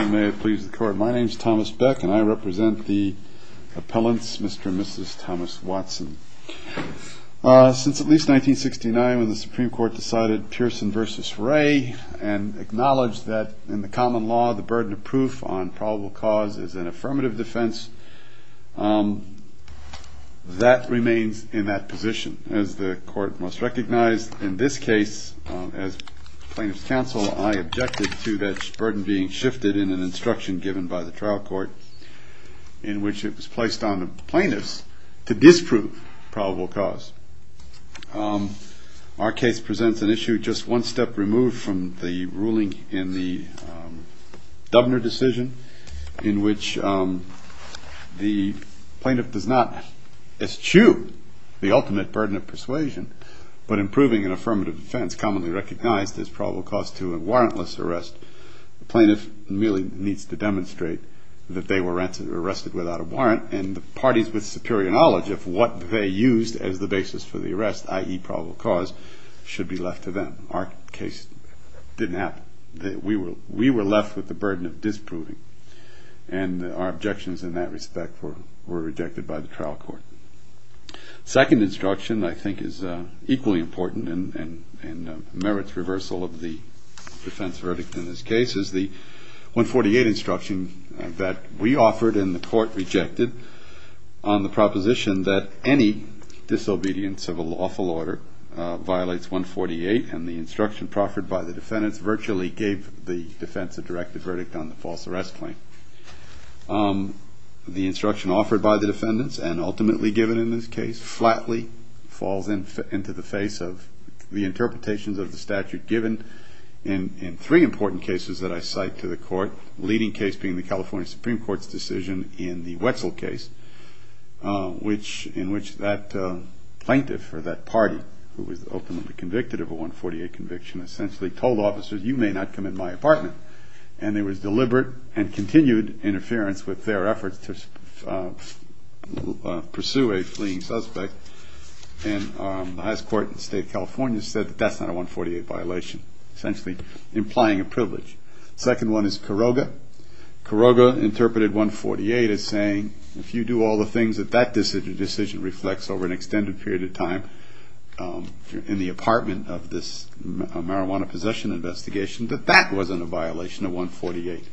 May it please the court, my name is Thomas Beck and I represent the appellants Mr. and Mrs. Thomas Watson. Since at least 1969 when the Supreme Court decided Pearson v. Ray and acknowledged that in the common law the burden of proof on probable cause is an affirmative defense, that remains in that position as the court must recognize in this case as plaintiff's counsel I objected to that burden being shifted in an instruction given by the trial court in which it was placed on the plaintiffs to disprove probable cause. Our case presents an issue just one step removed from the ruling in the Dubner decision in which the plaintiff does not eschew the ultimate burden of persuasion but improving an affirmative defense commonly recognized as probable cause to a warrantless arrest. The plaintiff really needs to demonstrate that they were arrested without a warrant and the parties with superior knowledge of what they used as the basis for the arrest, i.e. probable cause, should be left to them. Our case didn't happen. We were left with the burden of disproving and our objections in that respect were rejected by the trial court. The second instruction I think is equally important and merits reversal of the defense verdict in this case is the 148 instruction that we offered and the court rejected on the proposition that any disobedience of a lawful order violates 148 and the instruction proffered by the defendants virtually gave the defense a directed verdict on the false arrest claim. The instruction offered by the defendants and ultimately given in this case flatly falls into the face of the interpretations of the statute given in three important cases that I cite to the court, leading case being the California Supreme Court's decision in the Wetzel case in which that plaintiff or that party who was ultimately convicted of a 148 conviction essentially told officers, you may not come in my apartment and there was deliberate and continued interference with their efforts to pursue a fleeing suspect and the highest court in the state of California said that that's not a 148 violation, essentially implying a privilege. The second one is Caroga. Caroga interpreted 148 as saying if you do all the things that that decision reflects over an extended period of time in the apartment of this marijuana possession investigation that that wasn't a violation of 148.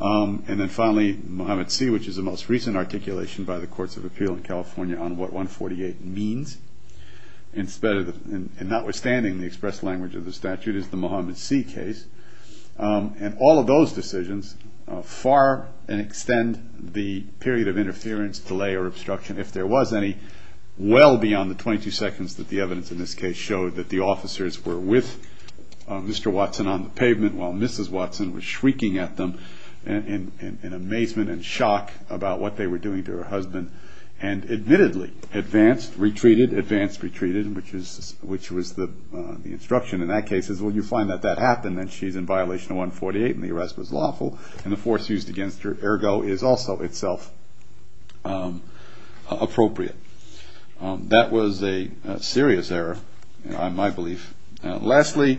And then finally, Mohammed C., which is the most recent articulation by the courts of appeal in California on what 148 means and notwithstanding the express language of the statute is the Mohammed C. case and all of those decisions far and extend the period of interference, delay or obstruction, if there was any, well beyond the 22 seconds that the evidence in this case showed that the officers were with Mr. Watson on the pavement while Mrs. Watson was shrieking at them. And in amazement and shock about what they were doing to her husband and admittedly advanced, retreated, advanced, retreated, which was the instruction in that case is well you find that that happened and she's in violation of 148 and the arrest was lawful and the force used against her ergo is also itself appropriate. That was a serious error in my belief. Lastly,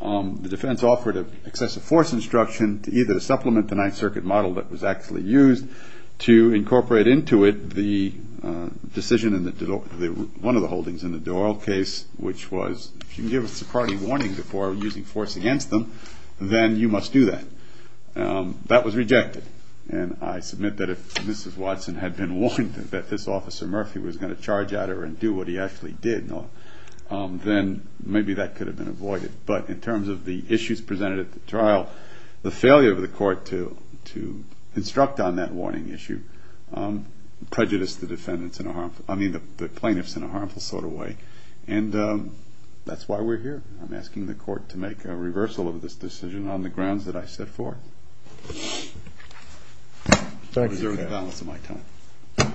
the defense offered an excessive force instruction to either supplement the Ninth Circuit model that was actually used to incorporate into it the decision in one of the holdings in the Doyle case, which was if you can give a Socrates warning before using force against them, then you must do that. That was rejected. And I submit that if Mrs. Watson had been warned that this Officer Murphy was going to charge at her and do what he actually did, then maybe that could have been avoided. But in terms of the issues presented at the trial, the failure of the court to instruct on that warning issue prejudiced the defendants in a harmful, I mean the plaintiffs in a harmful sort of way. And that's why we're here. I'm asking the court to make a reversal of this decision on the grounds that I set forth. Thank you, Your Honor. To preserve the balance of my time.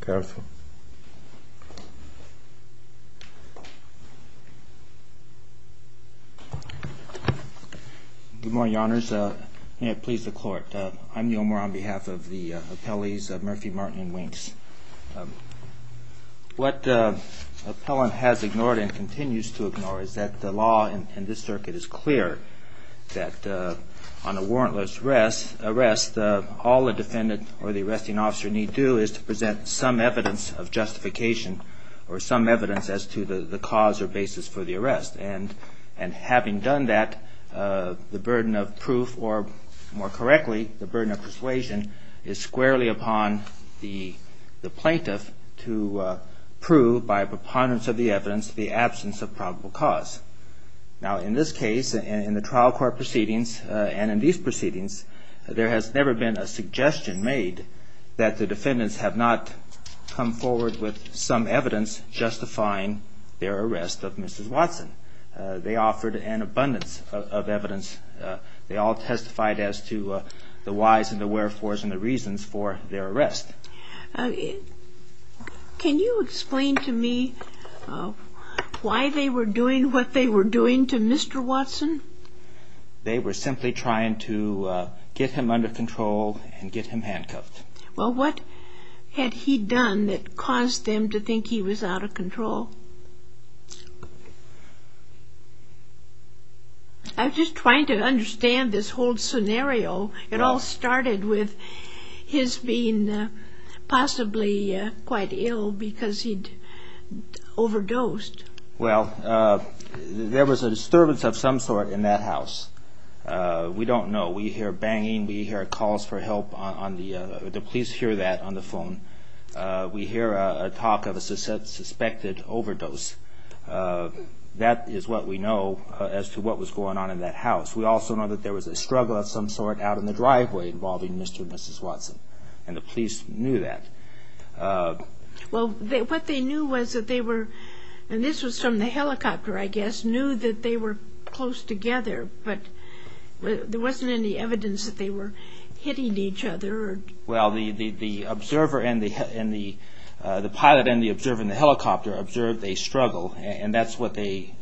Careful. Good morning, Your Honors. May it please the Court. I'm Neal Moore on behalf of the appellees Murphy, Martin, and Winks. What the appellant has ignored and continues to ignore is that the law in this circuit is clear that on a warrantless arrest, all the defendant or the arresting officer need do is to present some evidence of justification or some evidence as to the cause or basis for the arrest. And having done that, the burden of proof, or more correctly, the burden of persuasion is squarely upon the plaintiff to prove by preponderance of the evidence the absence of probable cause. Now, in this case, in the trial court proceedings, and in these proceedings, there has never been a suggestion made that the defendants have not come forward with some evidence justifying their arrest of Mrs. Watson. They offered an abundance of evidence. They all testified as to the whys and the wherefores and the reasons for their arrest. Can you explain to me why they were doing what they were doing to Mr. Watson? They were simply trying to get him under control and get him handcuffed. Well, what had he done that caused them to think he was out of control? I'm just trying to understand this whole scenario. It all started with his being possibly quite ill because he'd overdosed. Well, there was a disturbance of some sort in that house. We don't know. We hear banging. We hear calls for help on the, the police hear that on the phone. We hear a talk of a suspected overdose. That is what we know as to what was going on in that house. We also know that there was a struggle of some sort out in the driveway involving Mr. and Mrs. Watson, and the police knew that. Well, what they knew was that they were, and this was from the helicopter, I guess, knew that they were close together, but there wasn't any evidence that they were hitting each other. Well, the observer and the, the pilot and the observer in the helicopter observed a struggle, and that's what they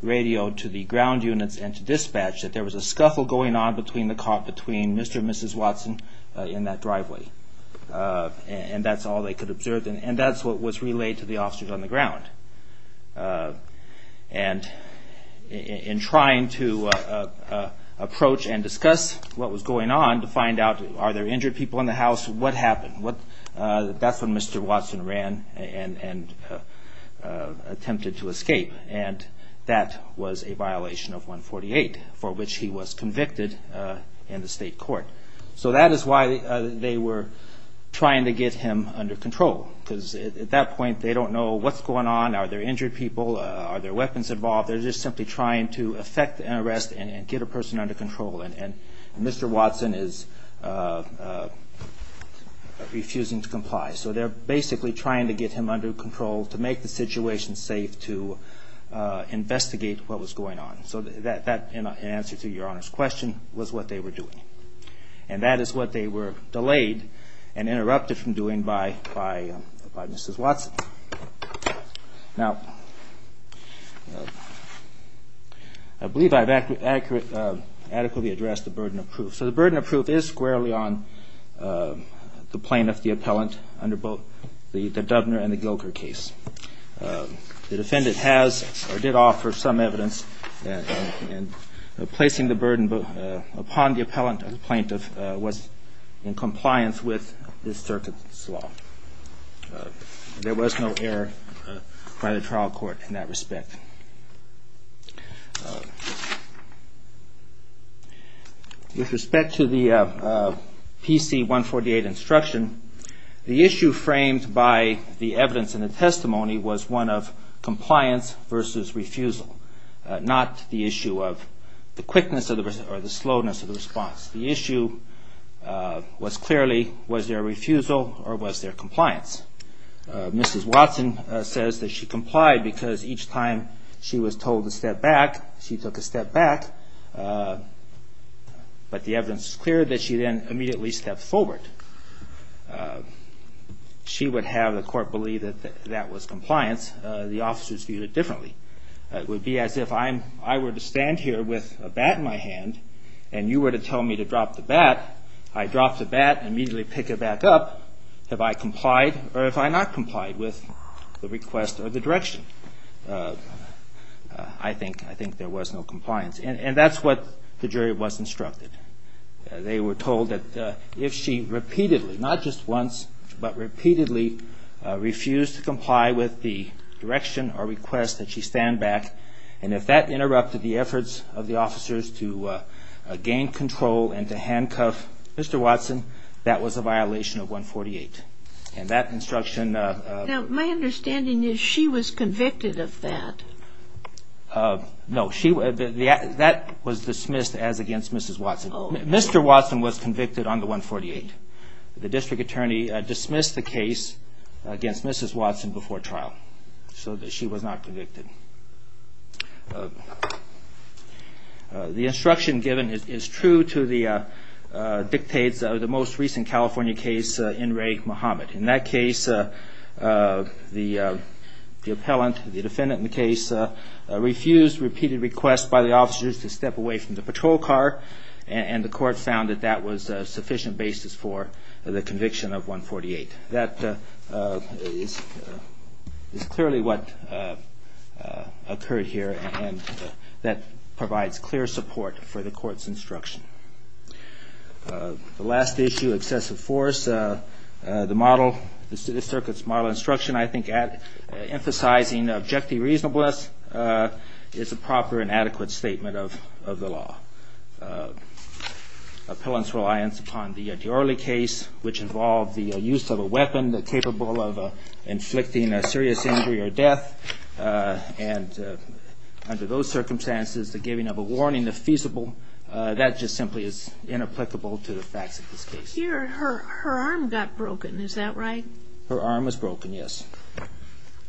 radioed to the ground units and to dispatch, that there was a scuffle going on between the, caught between Mr. and Mrs. Watson in that driveway. And that's all they could observe, and that's what was relayed to the officers on the ground. And in trying to approach and discuss what was going on to find out are there injured people in the house, what happened? That's when Mr. Watson ran and attempted to escape, and that was a violation of 148 for which he was convicted in the state court. So that is why they were trying to get him under control, because at that point, they don't know what's going on. Are there injured people? Are there weapons involved? They're just simply trying to effect an arrest and get a person under control, and Mr. Watson is refusing to comply. So they're basically trying to get him under control to make the situation safe to investigate what was going on. So that, in answer to Your Honor's question, was what they were doing. And that is what they were delayed and interrupted from doing by Mrs. Watson. Now, I believe I've adequately addressed the burden of proof. So the burden of proof is squarely on the plaintiff, the appellant, under both the Dubner and the Gilker case. The defendant has or did offer some evidence in placing the burden upon the appellant if the plaintiff was in compliance with this circuit's law. There was no error by the trial court in that respect. With respect to the PC-148 instruction, the issue framed by the evidence in the testimony was one of compliance versus refusal, not the issue of the quickness or the slowness of the response. The issue was clearly, was there refusal or was there compliance? Mrs. Watson says that she complied because each time she was told to step back, she took a step back. But the evidence is clear that she then immediately stepped forward. She would have the court believe that that was compliance. The officers viewed it differently. It would be as if I were to stand here with a bat in my hand and you were to tell me to drop the bat, I drop the bat and immediately pick it back up. Have I complied or have I not complied with the request or the direction? I think there was no compliance. And that's what the jury was instructed. They were told that if she repeatedly, not just once, but repeatedly refused to comply with the direction or request that she stand back and if that interrupted the efforts of the officers to gain control and to handcuff Mr. Watson, that was a violation of 148. And that instruction... Now, my understanding is she was convicted of that. No, that was dismissed as against Mrs. Watson. Mr. Watson was convicted on the 148. The district attorney dismissed the case against Mrs. Watson before trial, so that she was not convicted. The instruction given is true to the dictates of the most recent California case, N. Ray Muhammad. In that case, the appellant, the defendant in the case, refused repeated requests by the officers to step away from the patrol car and the court found that that was a sufficient basis for the conviction of 148. That is clearly what occurred here and that provides clear support for the court's instruction. The last issue, excessive force. The model, the circuit's model instruction, I think, emphasizing objective reasonableness is a proper and adequate statement of the law. Appellant's reliance upon the De Orley case, which involved the use of a weapon capable of inflicting a serious injury or death, and under those circumstances, the giving of a warning, if feasible, that just simply is inapplicable to the facts of this case. Here, her arm got broken, is that right? Her arm was broken, yes,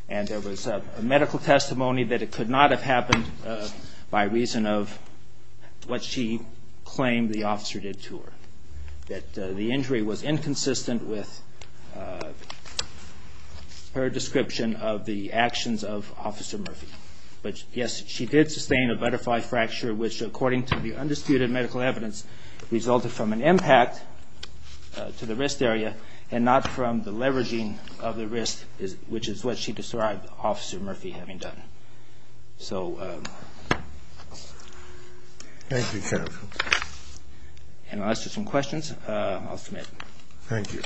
and there was a medical testimony that it could not have happened by reason of what she claimed the officer did to her, that the injury was inconsistent with her description of the actions of Officer Murphy. But, yes, she did sustain a butterfly fracture, which according to the undisputed medical evidence, resulted from an impact to the wrist area and not from the leveraging of the wrist, which is what she described Officer Murphy having done. So... Thank you, counsel. And unless there's some questions, I'll submit. Thank you.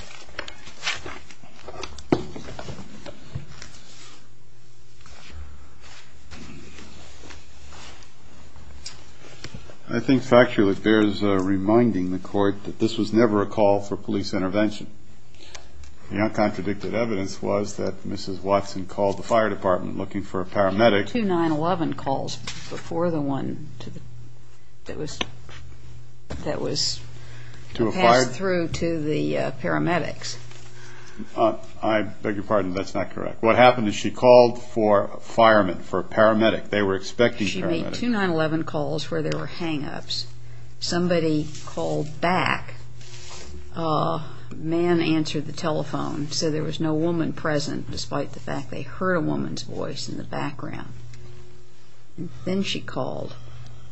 I think factually it bears reminding the court that this was never a call for police intervention. The uncontradicted evidence was that Mrs. Watson called the fire department looking for a paramedic. She made two 9-11 calls before the one that was passed through to the paramedics. I beg your pardon, that's not correct. What happened is she called for a fireman, for a paramedic. They were expecting paramedics. She made two 9-11 calls where there were hang-ups. Somebody called back. A man answered the telephone. He said there was no woman present, despite the fact they heard a woman's voice in the background. Then she called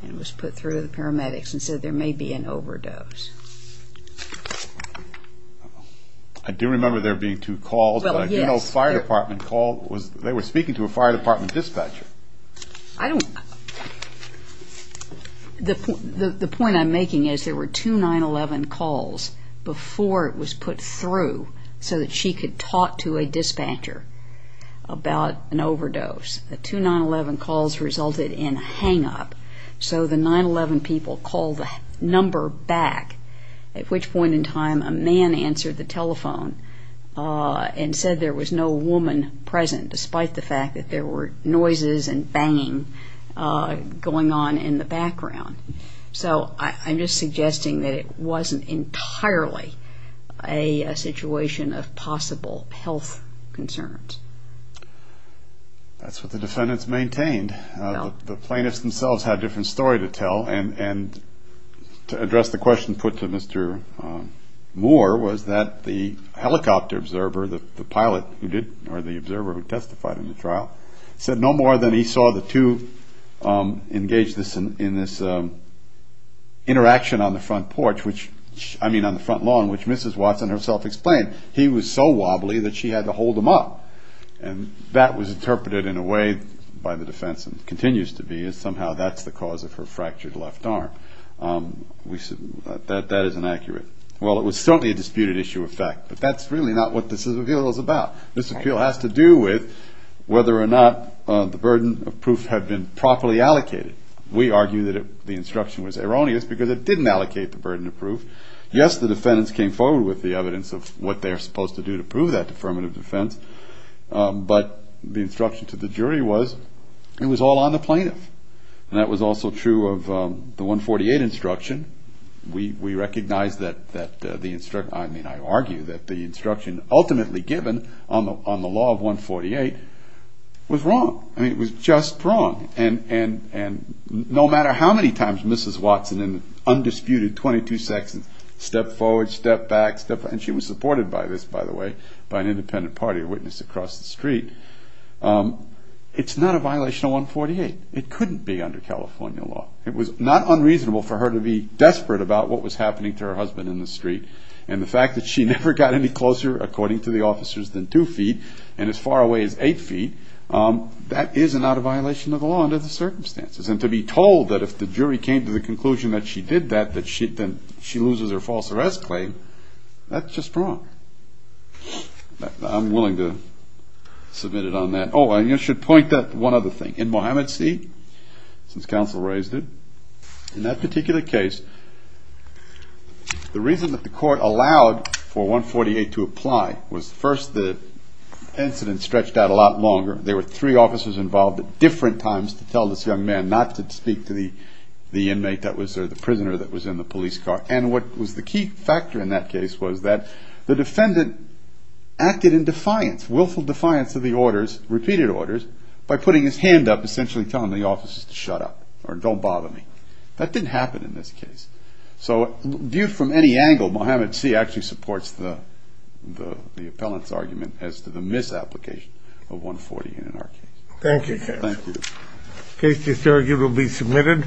and was put through to the paramedics and said there may be an overdose. I do remember there being two calls. I do know a fire department call. They were speaking to a fire department dispatcher. I don't know. The point I'm making is there were two 9-11 calls before it was put through so that she could talk to a dispatcher about an overdose. The two 9-11 calls resulted in a hang-up. So the 9-11 people called the number back, at which point in time a man answered the telephone and said there was no woman present, despite the fact that there were noises and banging going on in the background. So I'm just suggesting that it wasn't entirely a situation of possible health concerns. That's what the defendants maintained. The plaintiffs themselves had a different story to tell, and to address the question put to Mr. Moore was that the helicopter observer, the pilot who did, or the observer who testified in the trial, said no more than he saw the two engage in this interaction on the front porch, I mean on the front lawn, which Mrs. Watson herself explained. He was so wobbly that she had to hold him up, and that was interpreted in a way by the defense and continues to be as somehow that's the cause of her fractured left arm. That is inaccurate. Well, it was certainly a disputed issue of fact, but that's really not what this appeal is about. This appeal has to do with whether or not the burden of proof had been properly allocated. We argue that the instruction was erroneous because it didn't allocate the burden of proof. Yes, the defendants came forward with the evidence of what they're supposed to do to prove that affirmative defense, but the instruction to the jury was it was all on the plaintiff, and that was also true of the 148 instruction. We recognize that the instruction, I mean I argue that the instruction ultimately given on the law of 148 was wrong. I mean it was just wrong, and no matter how many times Mrs. Watson in undisputed 22 sections stepped forward, stepped back, and she was supported by this, by the way, by an independent party witness across the street, it's not a violation of 148. It couldn't be under California law. It was not unreasonable for her to be desperate about what was happening to her husband in the street, and the fact that she never got any closer, according to the officers, than two feet, and as far away as eight feet, that is not a violation of the law under the circumstances, and to be told that if the jury came to the conclusion that she did that, that she loses her false arrest claim, that's just wrong. I'm willing to submit it on that. Oh, I should point out one other thing. In Mohamed C., since counsel raised it, in that particular case, the reason that the court allowed for 148 to apply was first the incident stretched out a lot longer. There were three officers involved at different times to tell this young man not to speak to the inmate that was there, the prisoner that was in the police car, and what was the key factor in that case was that the defendant acted in defiance, willful defiance of the orders, repeated orders, by putting his hand up, essentially telling the officers to shut up or don't bother me. That didn't happen in this case. So viewed from any angle, Mohamed C. actually supports the appellant's argument as to the misapplication of 140 in our case. Thank you, counsel. Thank you. The case is currently submitted.